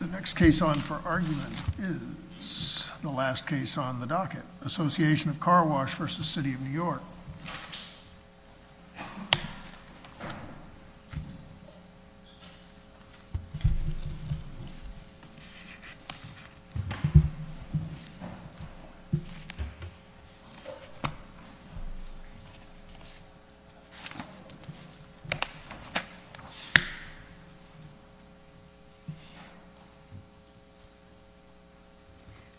The next case on for argument is the last case on the docket. Association of Car Wash versus City of New York.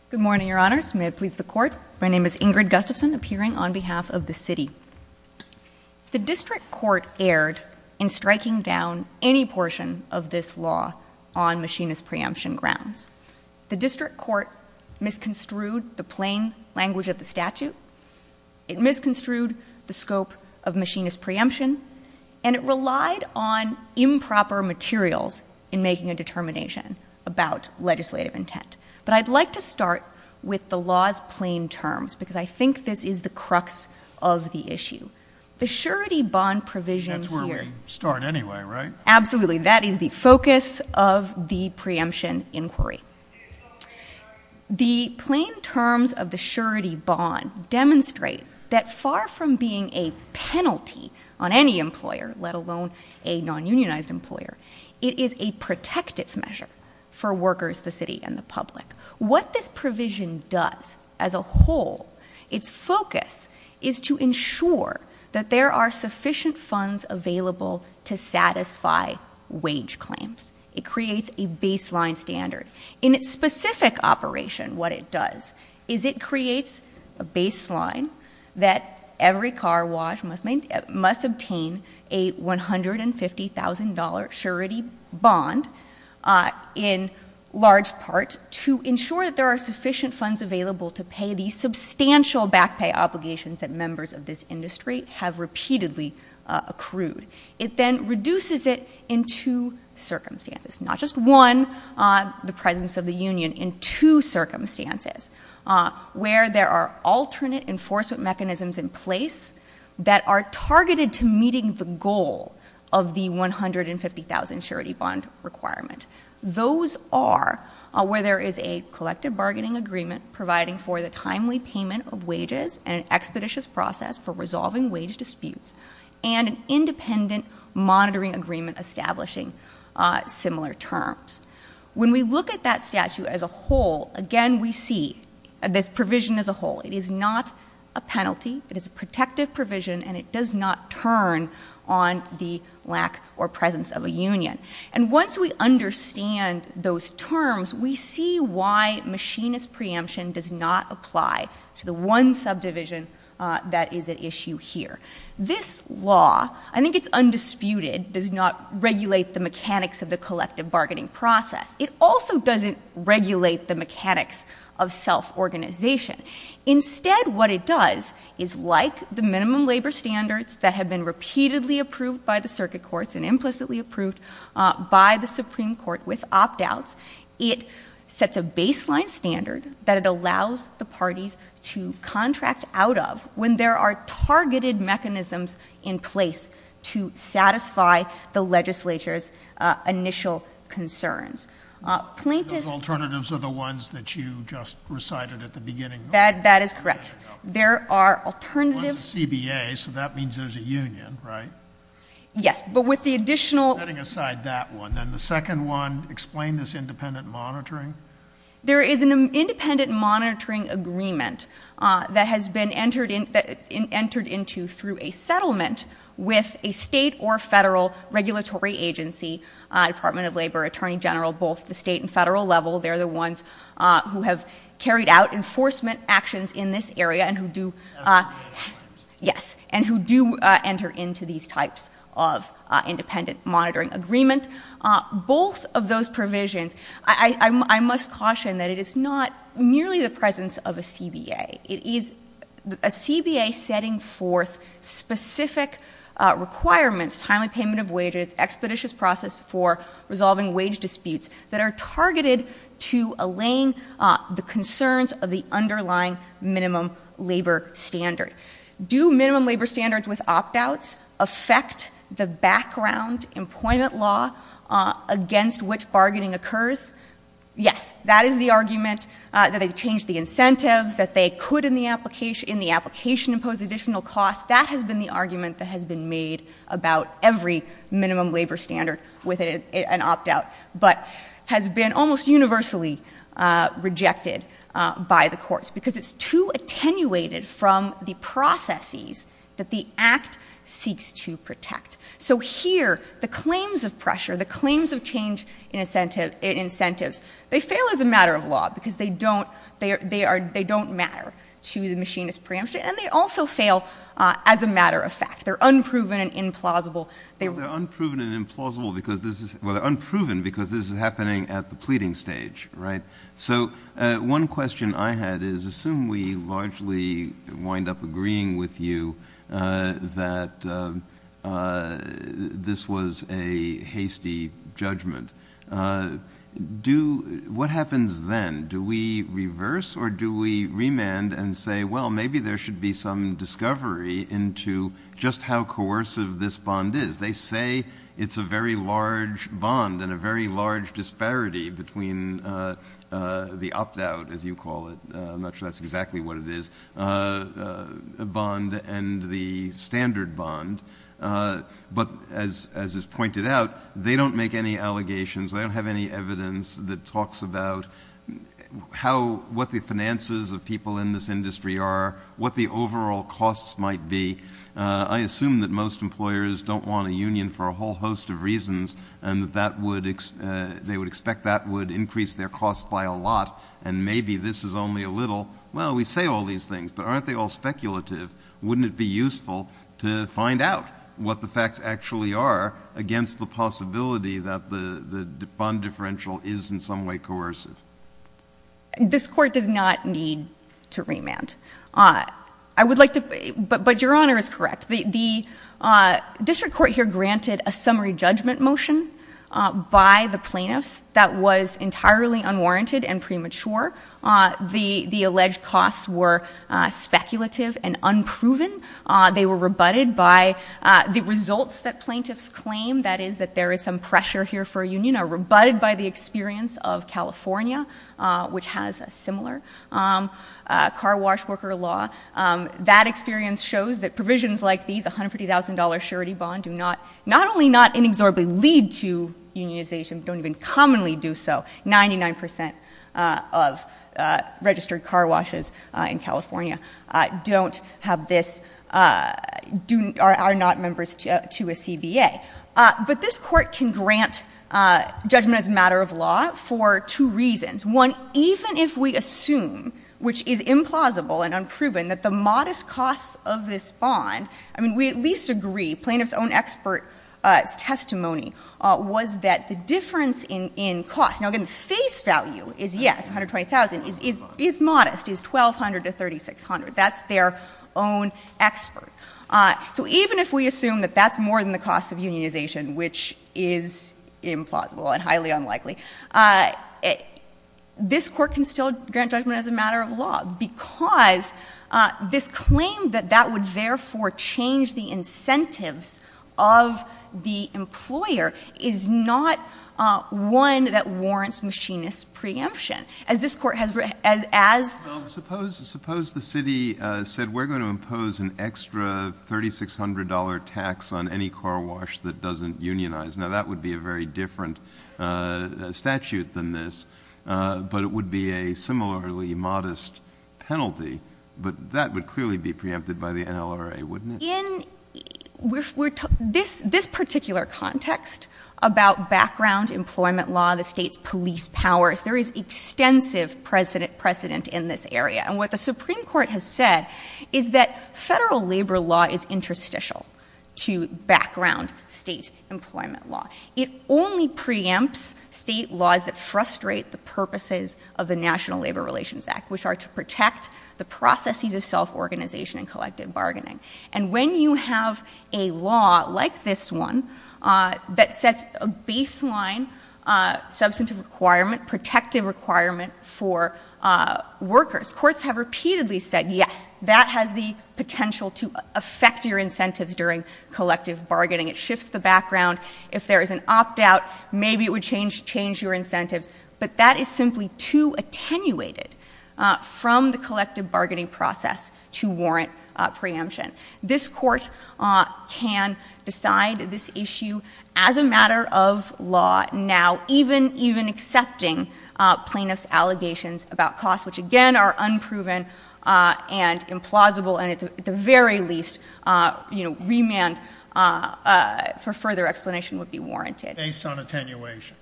Good morning, your honors. May it please the court. My name is Ingrid Gustafson, appearing on behalf of the city. The district court erred in striking down any portion of this law on machinist preemption grounds. The district court misconstrued the plain language of the statute. It misconstrued the scope of machinist preemption. And it relied on improper materials in making a determination about legislative intent. But I'd like to start with the law's plain terms because I think this is the crux of the issue. The surety bond provision here. That's where we start anyway, right? Absolutely. That is the focus of the preemption inquiry. The plain terms of the surety bond demonstrate that far from being a penalty on any employer, let alone a non-unionized employer, it is a protective measure for workers, the city, and the public. What this provision does as a whole, its focus is to ensure that there are sufficient funds available to satisfy wage claims. It creates a baseline standard. In its specific operation, what it does is it creates a baseline that every car wash must obtain a $150,000 surety bond in large part to ensure that there are sufficient funds available to pay the substantial back pay obligations that members of this industry have repeatedly accrued. It then reduces it in two circumstances. Not just one, the presence of the union. In two circumstances where there are alternate enforcement mechanisms in place that are targeted to meeting the goal of the $150,000 surety bond requirement. Those are where there is a collective bargaining agreement providing for the timely payment of wages and an expeditious process for resolving wage disputes and an independent monitoring agreement establishing similar terms. When we look at that statute as a whole, again, we see this provision as a whole. It is not a penalty. It is a protective provision, and it does not turn on the lack or presence of a union. And once we understand those terms, we see why machinist preemption does not apply to the one subdivision that is at issue here. This law, I think it's undisputed, does not regulate the mechanics of the collective bargaining process. It also doesn't regulate the mechanics of self-organization. Instead, what it does is like the minimum labor standards that have been repeatedly approved by the circuit courts and implicitly approved by the Supreme Court with opt-outs, it sets a baseline standard that it allows the parties to contract out of when there are targeted mechanisms in place to satisfy the legislature's initial concerns. Those alternatives are the ones that you just recited at the beginning. That is correct. There are alternatives. One's a CBA, so that means there's a union, right? Yes, but with the additional... Setting aside that one, then the second one, explain this independent monitoring. There is an independent monitoring agreement that has been entered into through a settlement with a state or federal regulatory agency, Department of Labor, Attorney General, both the state and federal level. They're the ones who have carried out enforcement actions in this area and who do... Yes, and who do enter into these types of independent monitoring agreement. Both of those provisions, I must caution that it is not merely the presence of a CBA. It is a CBA setting forth specific requirements, timely payment of wages, expeditious process for resolving wage disputes that are targeted to allaying the concerns of the underlying minimum labor standard. Do minimum labor standards with opt-outs affect the background employment law against which bargaining occurs? Yes. That is the argument that they've changed the incentives, that they could in the application impose additional costs. That has been the argument that has been made about every minimum labor standard with an opt-out, but has been almost universally rejected by the courts because it's too attenuated from the processes that the Act seeks to protect. So here, the claims of pressure, the claims of change in incentives, they fail as a matter of law because they don't matter to the machinist preemption, and they also fail as a matter of fact. They're unproven and implausible. They're unproven and implausible because this is happening at the pleading stage, right? So one question I had is assume we largely wind up agreeing with you that this was a hasty judgment. What happens then? Do we reverse or do we remand and say, well, maybe there should be some discovery into just how coercive this bond is? They say it's a very large bond and a very large disparity between the opt-out, as you call it. I'm not sure that's exactly what it is, a bond and the standard bond. But as is pointed out, they don't make any allegations. They don't have any evidence that talks about what the finances of people in this industry are, what the overall costs might be. I assume that most employers don't want a union for a whole host of reasons, and that they would expect that would increase their costs by a lot, and maybe this is only a little. Well, we say all these things, but aren't they all speculative? Wouldn't it be useful to find out what the facts actually are against the possibility that the bond differential is in some way coercive? This Court does not need to remand. But Your Honor is correct. The district court here granted a summary judgment motion by the plaintiffs that was entirely unwarranted and premature. The alleged costs were speculative and unproven. They were rebutted by the results that plaintiffs claim, that is, that there is some pressure here for a union, are rebutted by the experience of California, which has a similar car wash worker law. That experience shows that provisions like these, $150,000 surety bond, do not, not only not inexorably lead to unionization, but don't even commonly do so. Ninety-nine percent of registered car washes in California don't have this, are not members to a CBA. But this Court can grant judgment as a matter of law for two reasons. One, even if we assume, which is implausible and unproven, that the modest costs of this bond, I mean, we at least agree, plaintiff's own expert's testimony was that the difference in cost. Now, again, the face value is, yes, $120,000, is modest, is $1,200 to $3,600. That's their own expert. So even if we assume that that's more than the cost of unionization, which is implausible and highly unlikely, this Court can still grant judgment as a matter of law because this claim that that would therefore change the incentives of the employer is not one that warrants machinist preemption. As this Court has, as, as. Suppose, suppose the city said we're going to impose an extra $3,600 tax on any car wash that doesn't unionize. Now, that would be a very different statute than this, but it would be a similarly modest penalty. But that would clearly be preempted by the NLRA, wouldn't it? In this, this particular context about background employment law, the State's police powers, there is extensive precedent in this area. And what the Supreme Court has said is that Federal labor law is interstitial to background State employment law. It only preempts State laws that frustrate the purposes of the National Labor Relations Act, which are to protect the processes of self-organization and collective bargaining. And when you have a law like this one that sets a baseline substantive requirement, protective requirement for workers, courts have repeatedly said, yes, that has the potential to affect your incentives during collective bargaining. It shifts the background. If there is an opt-out, maybe it would change, change your incentives. But that is simply too attenuated from the collective bargaining process to warrant preemption. This Court can decide this issue as a matter of law now, even, even accepting plaintiffs' allegations about costs, which, again, are unproven and implausible, and at the very least, you know, remand for further explanation would be warranted. Based on attenuation.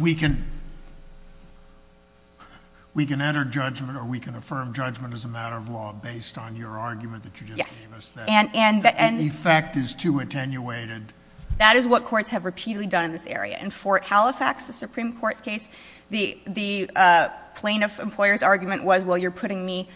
We can, we can enter judgment or we can affirm judgment as a matter of law based on your argument that you just gave us. Yes. The effect is too attenuated. That is what courts have repeatedly done in this area. In Fort Halifax, the Supreme Court's case, the plaintiff employer's argument was, well, you're putting me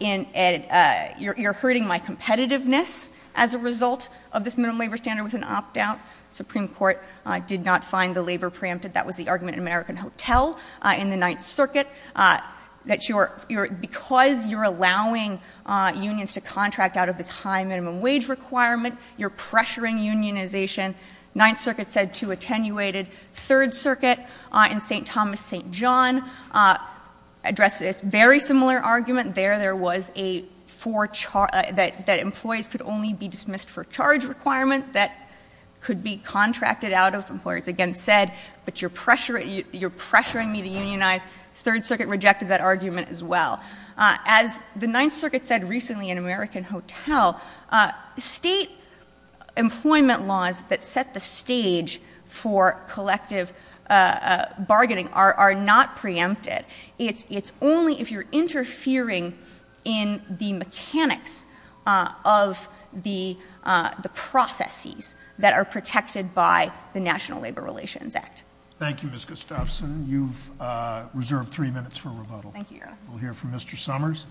in a, you're hurting my competitiveness as a result of this minimum labor standard with an opt-out. Supreme Court did not find the labor preempted. That was the argument in American Hotel in the Ninth Circuit, that you're, because you're allowing unions to contract out of this high minimum wage requirement, you're pressuring unionization. Ninth Circuit said too attenuated. Third Circuit in St. Thomas-St. John addressed this very similar argument. There, there was a for, that employees could only be dismissed for charge requirement that could be contracted out of, employers again said, but you're pressuring, you're pressuring me to unionize. Third Circuit rejected that argument as well. As the Ninth Circuit said recently in American Hotel, state employment laws that set the stage for collective bargaining are, are not preempted. It's, it's only if you're interfering in the mechanics of the, the processes that are protected by the National Labor Relations Act. Thank you, Ms. Gustafson. You've reserved three minutes for rebuttal. Thank you, Your Honor. We'll hear from Mr. Summers.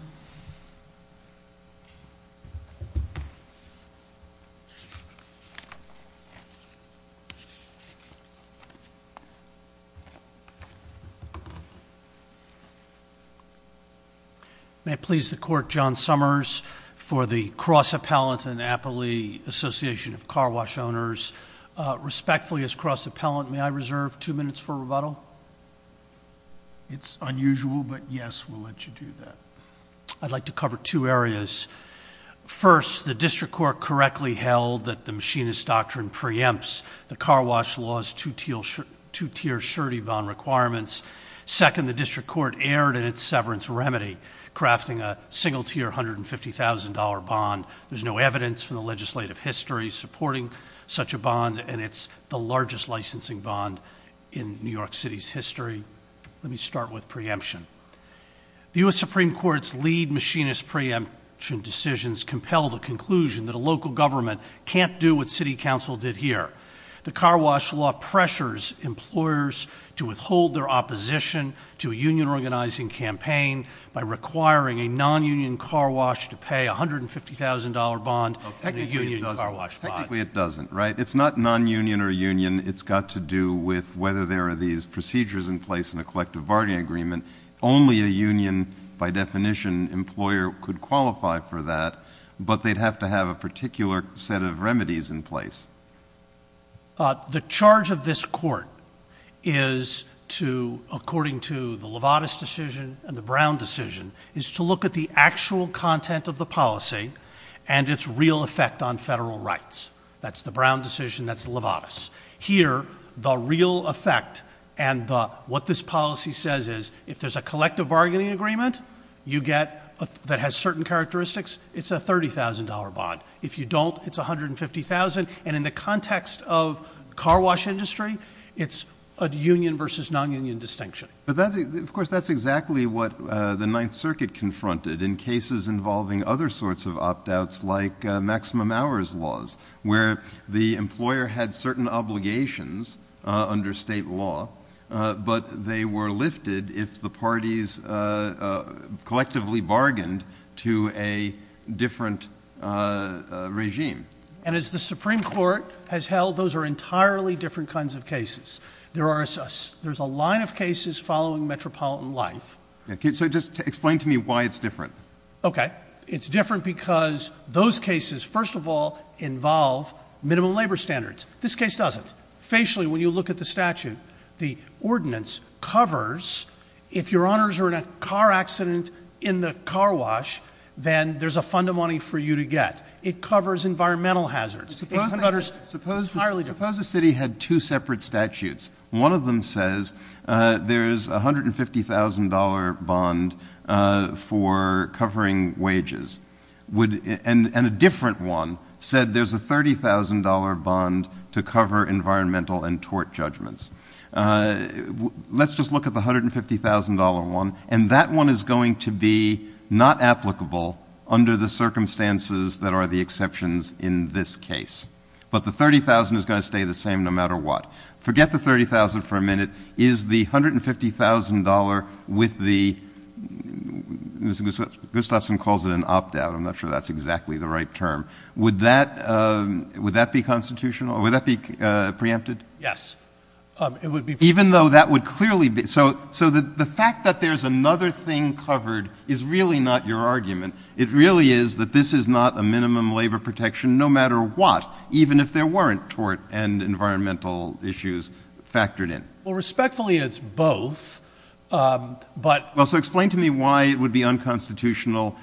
May it please the Court, John Summers for the Cross Appellant and Appley Association of Car Wash Owners. Respectfully as cross appellant, may I reserve two minutes for rebuttal? It's unusual, but yes, we'll let you do that. I'd like to cover two areas. First, the district court correctly held that the machinist doctrine preempts the car wash laws to tier surety bond requirements. Second, the district court erred in its severance remedy, crafting a single tier $150,000 bond. There's no evidence from the legislative history supporting such a bond, and it's the largest licensing bond in New York City's history. Let me start with preemption. The U.S. Supreme Court's lead machinist preemption decisions compel the conclusion that a local government can't do what city council did here. The car wash law pressures employers to withhold their opposition to a union organizing campaign by requiring a non-union car wash to pay a $150,000 bond. Technically it doesn't, right? It's not non-union or union. It's got to do with whether there are these procedures in place in a collective bargaining agreement. Only a union, by definition, employer could qualify for that, but they'd have to have a particular set of remedies in place. The charge of this court is to, according to the Lovatis decision and the Brown decision, is to look at the actual content of the policy and its real effect on federal rights. That's the Brown decision, that's the Lovatis. Here, the real effect and what this policy says is if there's a collective bargaining agreement that has certain characteristics, it's a $30,000 bond. If you don't, it's $150,000. And in the context of car wash industry, it's a union versus non-union distinction. Of course, that's exactly what the Ninth Circuit confronted in cases involving other sorts of opt-outs like maximum hours laws, where the employer had certain obligations under state law, but they were lifted if the parties collectively bargained to a different regime. And as the Supreme Court has held, those are entirely different kinds of cases. There's a line of cases following metropolitan life. So just explain to me why it's different. Okay. It's different because those cases, first of all, involve minimum labor standards. This case doesn't. Facially, when you look at the statute, the ordinance covers if Your Honors are in a car accident in the car wash, then there's a fund of money for you to get. It covers environmental hazards. Suppose the city had two separate statutes. One of them says there's a $150,000 bond for covering wages, and a different one said there's a $30,000 bond to cover environmental and tort judgments. Let's just look at the $150,000 one, and that one is going to be not applicable under the circumstances that are the exceptions in this case. But the $30,000 is going to stay the same no matter what. Forget the $30,000 for a minute. Is the $150,000 with the — Gustafson calls it an opt-out. I'm not sure that's exactly the right term. Would that be constitutional? Would that be preempted? Yes. Even though that would clearly be — so the fact that there's another thing covered is really not your argument. It really is that this is not a minimum labor protection no matter what, even if there weren't tort and environmental issues factored in. Well, respectfully, it's both, but — Well, so explain to me why it would be unconstitutional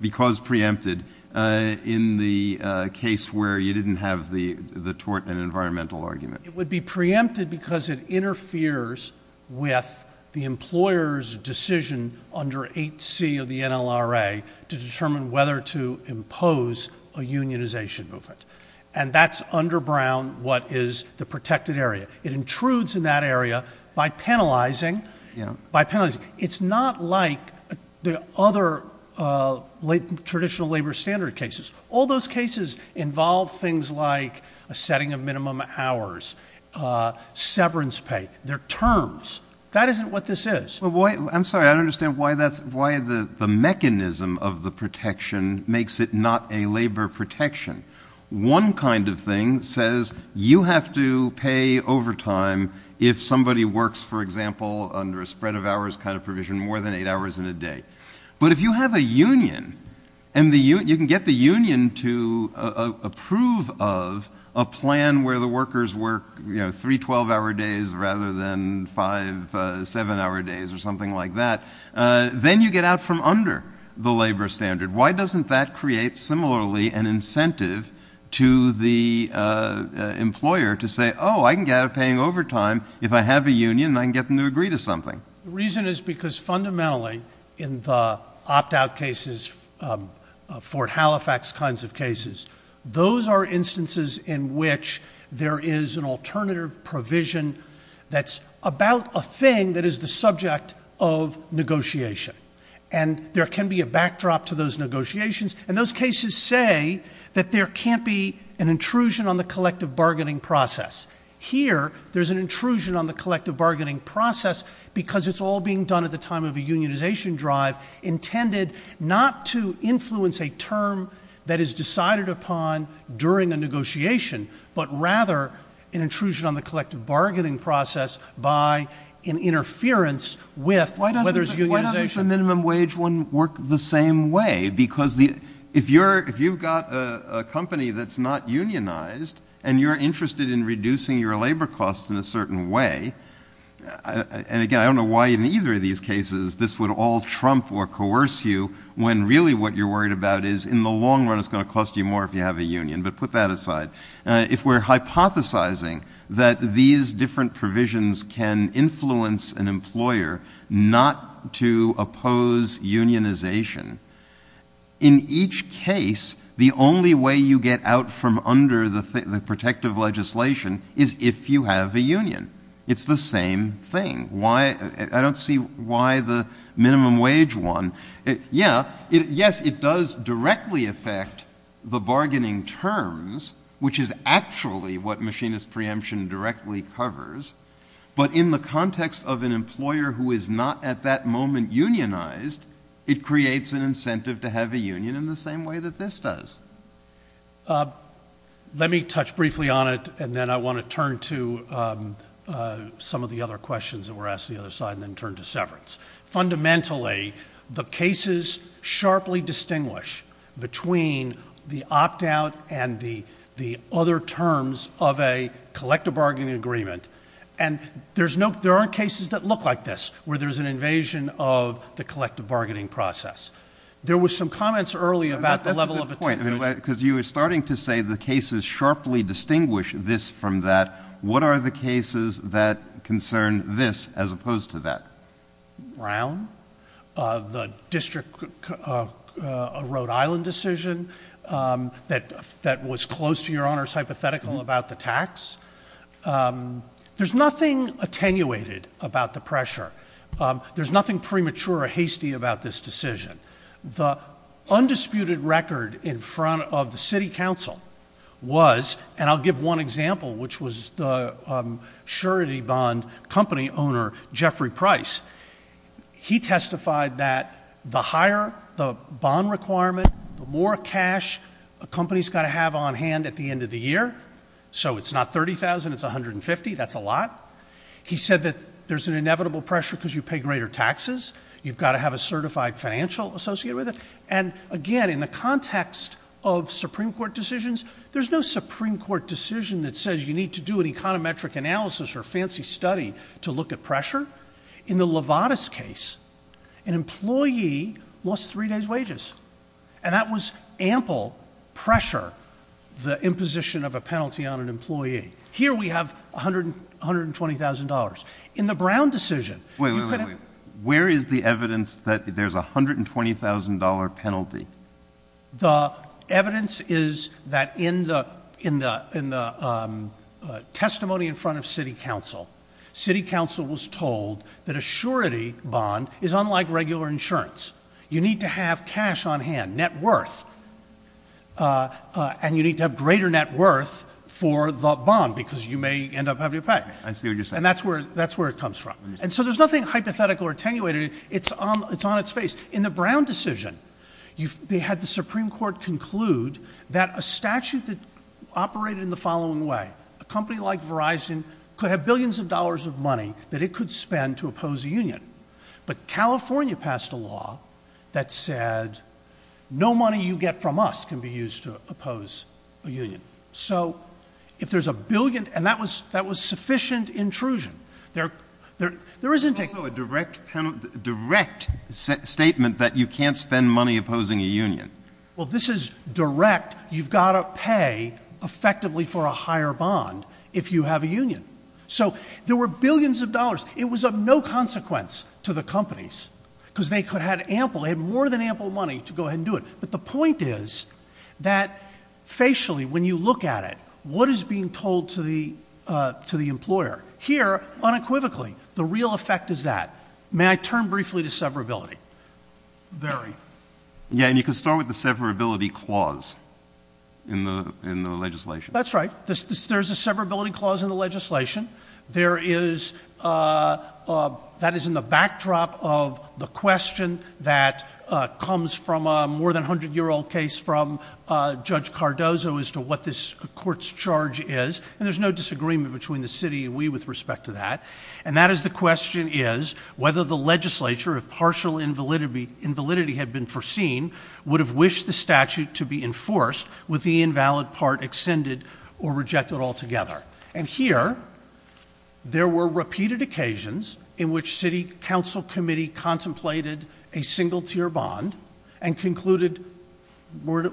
because preempted in the case where you didn't have the tort and environmental argument. It would be preempted because it interferes with the employer's decision under 8C of the NLRA to determine whether to impose a unionization movement. And that's under Brown what is the protected area. It intrudes in that area by penalizing. It's not like the other traditional labor standard cases. All those cases involve things like a setting of minimum hours, severance pay. They're terms. That isn't what this is. I'm sorry. I don't understand why the mechanism of the protection makes it not a labor protection. One kind of thing says you have to pay overtime if somebody works, for example, under a spread of hours kind of provision more than eight hours in a day. But if you have a union and you can get the union to approve of a plan where the workers work three 12-hour days rather than five 7-hour days or something like that, then you get out from under the labor standard. Why doesn't that create similarly an incentive to the employer to say, oh, I can get out of paying overtime if I have a union and I can get them to agree to something? The reason is because fundamentally in the opt-out cases, Fort Halifax kinds of cases, those are instances in which there is an alternative provision that's about a thing that is the subject of negotiation. And there can be a backdrop to those negotiations, and those cases say that there can't be an intrusion on the collective bargaining process. Here, there's an intrusion on the collective bargaining process because it's all being done at the time of a unionization drive intended not to influence a term that is decided upon during a negotiation, but rather an intrusion on the collective bargaining process by an interference with whether it's unionization. Why doesn't the minimum wage one work the same way? Because if you've got a company that's not unionized and you're interested in reducing your labor costs in a certain way, and again, I don't know why in either of these cases this would all trump or coerce you when really what you're worried about is in the long run it's going to cost you more if you have a union. But put that aside. If we're hypothesizing that these different provisions can influence an employer not to oppose unionization, in each case the only way you get out from under the protective legislation is if you have a union. It's the same thing. I don't see why the minimum wage one. Yes, it does directly affect the bargaining terms, which is actually what machinist preemption directly covers. But in the context of an employer who is not at that moment unionized, it creates an incentive to have a union in the same way that this does. Let me touch briefly on it, and then I want to turn to some of the other questions that were asked on the other side and then turn to severance. Fundamentally, the cases sharply distinguish between the opt-out and the other terms of a collective bargaining agreement. And there aren't cases that look like this where there's an invasion of the collective bargaining process. There were some comments earlier about the level of— Brown, the district of Rhode Island decision that was close to your Honor's hypothetical about the tax. There's nothing attenuated about the pressure. There's nothing premature or hasty about this decision. The undisputed record in front of the city council was—and I'll give one example, which was the surety bond company owner, Jeffrey Price. He testified that the higher the bond requirement, the more cash a company's got to have on hand at the end of the year. So it's not $30,000, it's $150,000. That's a lot. He said that there's an inevitable pressure because you pay greater taxes. You've got to have a certified financial associated with it. And again, in the context of Supreme Court decisions, there's no Supreme Court decision that says you need to do an econometric analysis or a fancy study to look at pressure. In the Lovatis case, an employee lost three days' wages. And that was ample pressure, the imposition of a penalty on an employee. Here we have $120,000. In the Brown decision— Wait, wait, wait. Where is the evidence that there's a $120,000 penalty? The evidence is that in the testimony in front of city council, city council was told that a surety bond is unlike regular insurance. You need to have cash on hand, net worth, and you need to have greater net worth for the bond because you may end up having to pay. I see what you're saying. And that's where it comes from. And so there's nothing hypothetical or attenuated. It's on its face. In the Brown decision, they had the Supreme Court conclude that a statute that operated in the following way, a company like Verizon could have billions of dollars of money that it could spend to oppose a union. But California passed a law that said no money you get from us can be used to oppose a union. So if there's a billion—and that was sufficient intrusion. There is— There's also a direct statement that you can't spend money opposing a union. Well, this is direct. You've got to pay effectively for a higher bond if you have a union. So there were billions of dollars. It was of no consequence to the companies because they could have ample—they had more than ample money to go ahead and do it. But the point is that facially, when you look at it, what is being told to the employer? Here, unequivocally, the real effect is that. May I turn briefly to severability? Very. Yeah, and you can start with the severability clause in the legislation. That's right. There's a severability clause in the legislation. There is—that is in the backdrop of the question that comes from a more than 100-year-old case from Judge Cardozo as to what this court's charge is. And there's no disagreement between the city and we with respect to that. And that is the question is whether the legislature, if partial invalidity had been foreseen, would have wished the statute to be enforced with the invalid part extended or rejected altogether. And here, there were repeated occasions in which city council committee contemplated a single-tier bond and concluded—never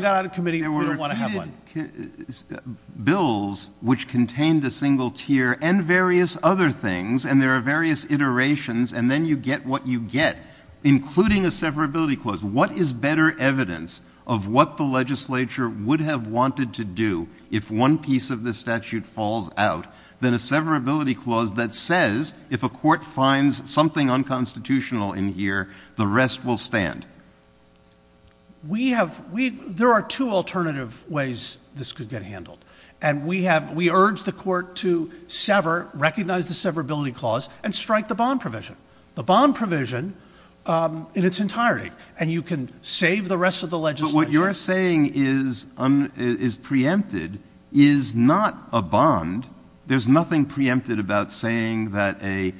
got out of committee, we don't want to have one. There were repeated bills which contained a single tier and various other things, and there are various iterations, and then you get what you get, including a severability clause. What is better evidence of what the legislature would have wanted to do if one piece of this statute falls out than a severability clause that says if a court finds something unconstitutional in here, the rest will stand? We have—there are two alternative ways this could get handled. And we have—we urge the court to sever, recognize the severability clause, and strike the bond provision. The bond provision in its entirety, and you can save the rest of the legislature. But what you're saying is preempted, is not a bond. There's nothing preempted about saying that a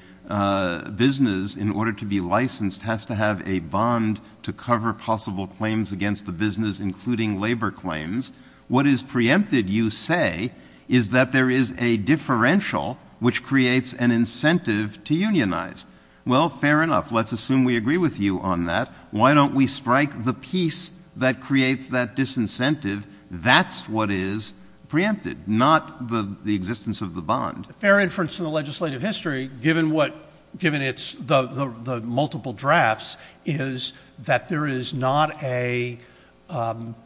business, in order to be licensed, has to have a bond to cover possible claims against the business, including labor claims. What is preempted, you say, is that there is a differential which creates an incentive to unionize. Well, fair enough. Let's assume we agree with you on that. Why don't we strike the piece that creates that disincentive? That's what is preempted, not the existence of the bond. Fair inference in the legislative history, given what—given its—the multiple drafts, is that there is not a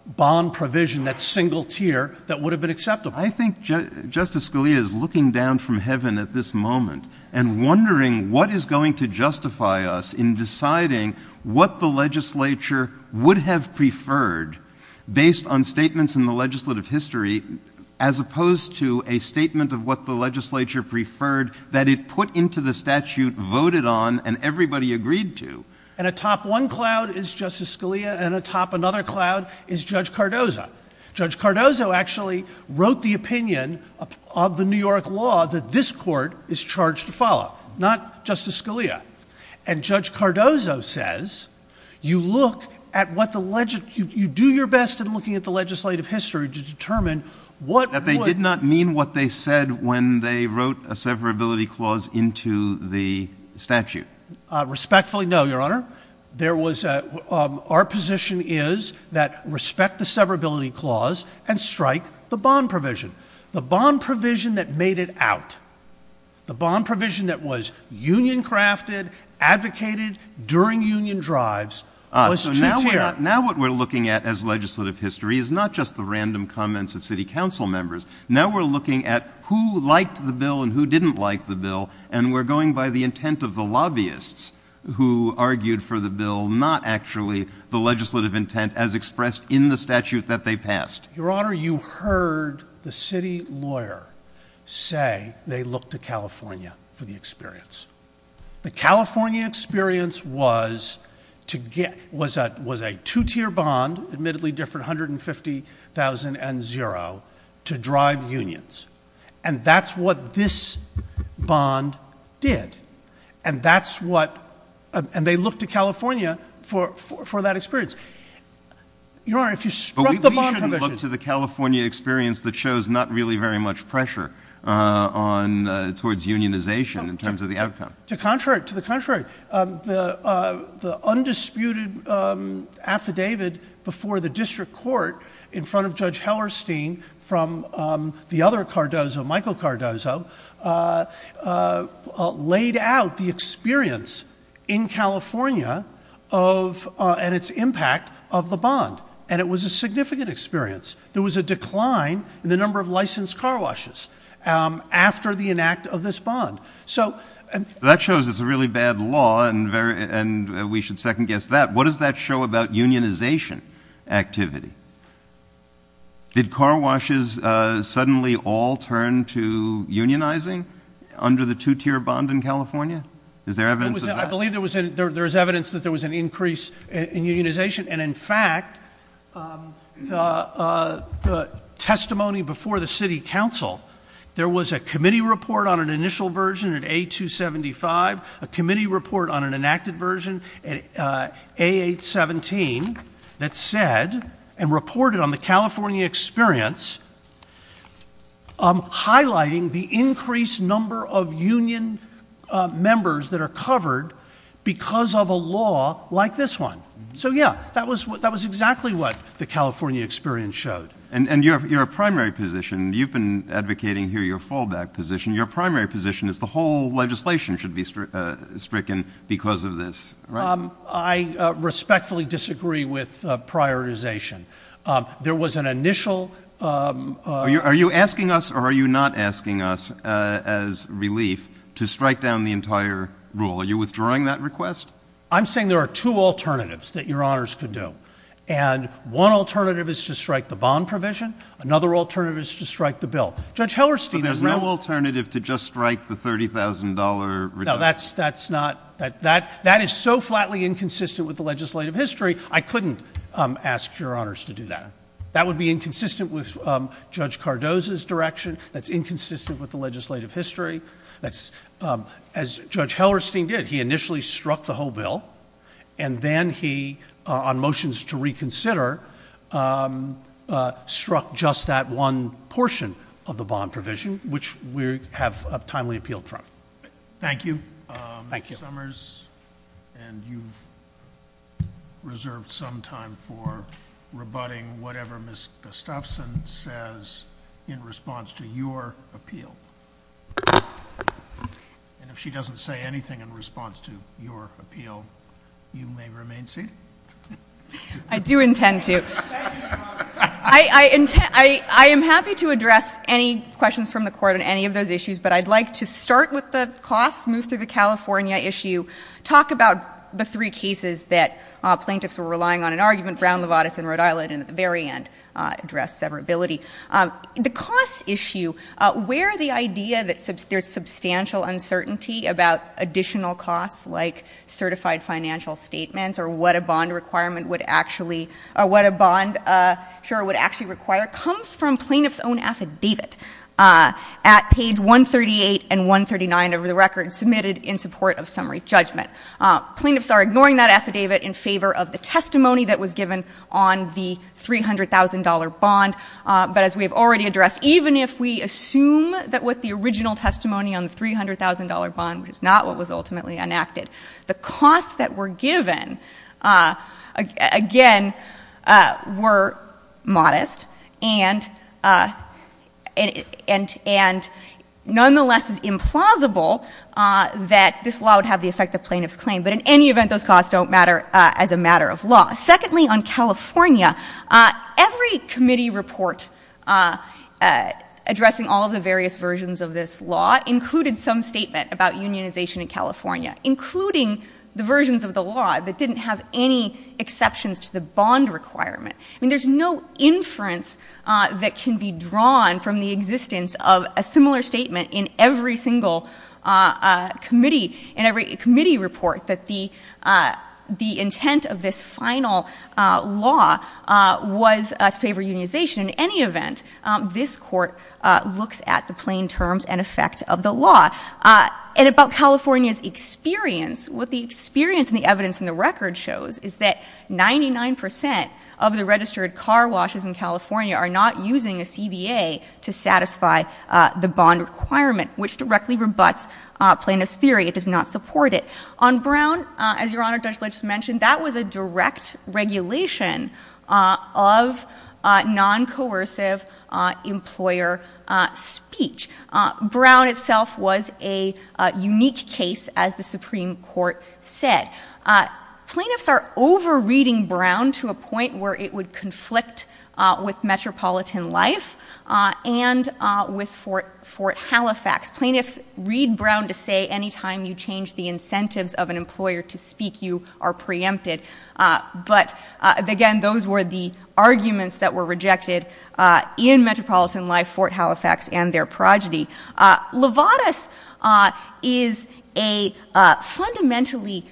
bond provision that's single-tier that would have been acceptable. I think Justice Scalia is looking down from heaven at this moment and wondering what is going to justify us in deciding what the legislature would have preferred, based on statements in the legislative history, as opposed to a statement of what the legislature preferred that it put into the statute, voted on, and everybody agreed to. And atop one cloud is Justice Scalia, and atop another cloud is Judge Cardozo. Judge Cardozo actually wrote the opinion of the New York law that this Court is charged to follow, not Justice Scalia. And Judge Cardozo says you look at what the—you do your best in looking at the legislative history to determine what would— That they did not mean what they said when they wrote a severability clause into the statute. Respectfully, no, Your Honor. There was a—our position is that respect the severability clause and strike the bond provision. The bond provision that made it out, the bond provision that was union-crafted, advocated during union drives, was two-tier. Ah, so now what we're looking at as legislative history is not just the random comments of City Council members. Now we're looking at who liked the bill and who didn't like the bill, and we're going by the intent of the lobbyists who argued for the bill, not actually the legislative intent as expressed in the statute that they passed. Your Honor, you heard the city lawyer say they looked to California for the experience. The California experience was to get—was a two-tier bond, admittedly different, $150,000 and zero, to drive unions. And that's what this bond did. And that's what—and they looked to California for that experience. Your Honor, if you struck the bond provision— To the contrary. The undisputed affidavit before the district court in front of Judge Hellerstein from the other Cardozo, Michael Cardozo, laid out the experience in California of—and its impact of the bond. And it was a significant experience. There was a decline in the number of licensed car washes after the enact of this bond. So— That shows it's a really bad law, and we should second-guess that. What does that show about unionization activity? Did car washes suddenly all turn to unionizing under the two-tier bond in California? Is there evidence of that? I believe there was evidence that there was an increase in unionization. And, in fact, the testimony before the city council, there was a committee report on an initial version at A-275, a committee report on an enacted version at A-817 that said and reported on the California experience, highlighting the increased number of union members that are covered because of a law like this one. So, yeah, that was exactly what the California experience showed. And your primary position—you've been advocating here your fallback position— your primary position is the whole legislation should be stricken because of this, right? I respectfully disagree with prioritization. There was an initial— Are you asking us or are you not asking us, as relief, to strike down the entire rule? Are you withdrawing that request? I'm saying there are two alternatives that Your Honors could do. And one alternative is to strike the bond provision. Another alternative is to strike the bill. Judge Hellerstein— But there's no alternative to just strike the $30,000 reduction. No, that's not—that is so flatly inconsistent with the legislative history. I couldn't ask Your Honors to do that. That would be inconsistent with Judge Cardozo's direction. That's inconsistent with the legislative history. As Judge Hellerstein did, he initially struck the whole bill, and then he, on motions to reconsider, struck just that one portion of the bond provision, which we have timely appealed from. Thank you. Thank you. Mr. Summers, and you've reserved some time for rebutting whatever Ms. Gustafson says in response to your appeal. And if she doesn't say anything in response to your appeal, you may remain seated. I do intend to. Thank you, Your Honor. I am happy to address any questions from the Court on any of those issues, but I'd like to start with the costs, move through the California issue, talk about the three cases that plaintiffs were relying on in argument, Brown-Levatas and Rhode Island, and at the very end address severability. The costs issue, where the idea that there's substantial uncertainty about additional costs, like certified financial statements or what a bond requirement would actually, or what a bond, sure, would actually require, comes from plaintiff's own affidavit at page 138 and 139 of the record, submitted in support of summary judgment. Plaintiffs are ignoring that affidavit in favor of the testimony that was given on the $300,000 bond. But as we have already addressed, even if we assume that what the original testimony on the $300,000 bond, which is not what was ultimately enacted, the costs that were given, again, were modest, and nonetheless it's implausible that this law would have the effect that plaintiffs claim. But in any event, those costs don't matter as a matter of law. Secondly, on California, every committee report addressing all of the various versions of this law included some statement about unionization in California, including the versions of the law that didn't have any exceptions to the bond requirement. I mean, there's no inference that can be drawn from the existence of a similar statement in every single committee, in every committee report, that the intent of this final law was to favor unionization. In any event, this Court looks at the plain terms and effect of the law. And about California's experience, what the experience and the evidence in the record shows is that 99 percent of the registered car washes in California are not using a CBA to satisfy the bond requirement, which directly rebuts plaintiff's theory. It does not support it. On Brown, as Your Honor, Judge Legis mentioned, that was a direct regulation of non-coercive employer speech. Brown itself was a unique case, as the Supreme Court said. Plaintiffs are over-reading Brown to a point where it would conflict with metropolitan life and with Fort Halifax. Plaintiffs read Brown to say any time you change the incentives of an employer to speak, you are preempted. But, again, those were the arguments that were rejected in metropolitan life, Fort Halifax, and their progeny. Levatas is a fundamentally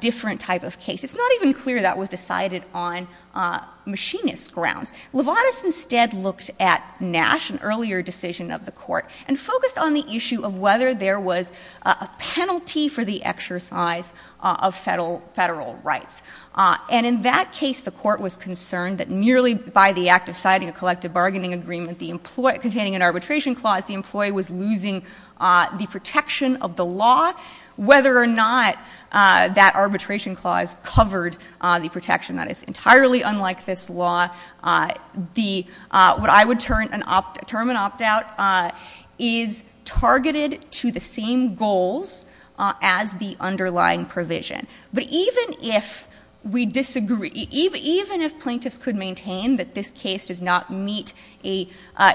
different type of case. It's not even clear that was decided on machinist grounds. Levatas instead looked at Nash, an earlier decision of the Court, and focused on the issue of whether there was a penalty for the exercise of federal rights. And in that case, the Court was concerned that merely by the act of citing a collective bargaining agreement containing an arbitration clause, the employee was losing the protection of the law, whether or not that arbitration clause covered the protection. That is entirely unlike this law. What I would term an opt-out is targeted to the same goals as the underlying provision. But even if plaintiffs could maintain that this case does not meet a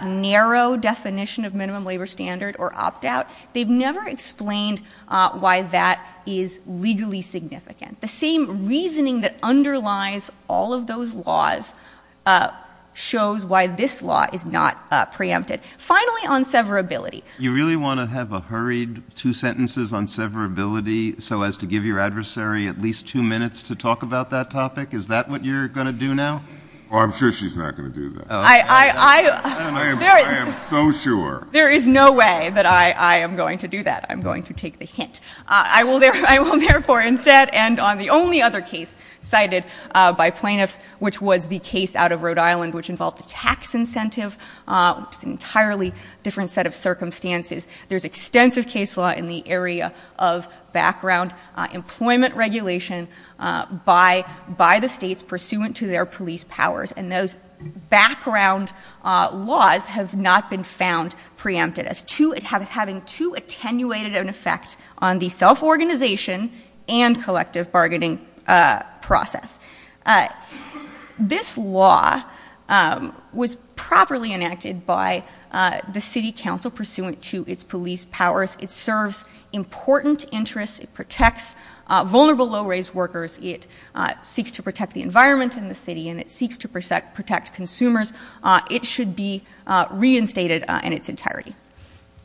narrow definition of minimum labor standard or opt-out, they've never explained why that is legally significant. The same reasoning that underlies all of those laws shows why this law is not preempted. Finally, on severability. You really want to have a hurried two sentences on severability so as to give your adversary at least two minutes to talk about that topic? Is that what you're going to do now? I'm sure she's not going to do that. I am so sure. There is no way that I am going to do that. I'm going to take the hint. I will therefore instead end on the only other case cited by plaintiffs, which was the case out of Rhode Island which involved the tax incentive. It's an entirely different set of circumstances. There's extensive case law in the area of background employment regulation by the states pursuant to their police powers. And those background laws have not been found preempted as having too attenuated an effect on the self-organization and collective bargaining process. This law was properly enacted by the city council pursuant to its police powers. It serves important interests. It protects vulnerable low-raised workers. It seeks to protect the environment in the city, and it seeks to protect consumers. It should be reinstated in its entirety.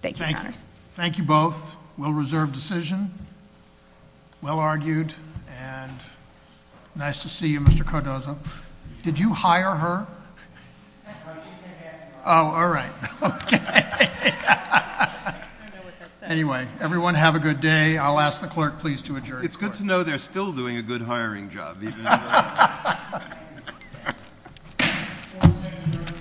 Thank you, Your Honors. Thank you both. Well-reserved decision, well-argued, and nice to see you, Mr. Cordoza. Did you hire her? Oh, all right. Okay. Anyway, everyone have a good day. I'll ask the clerk please to adjourn. It's good to know they're still doing a good hiring job. Thank you.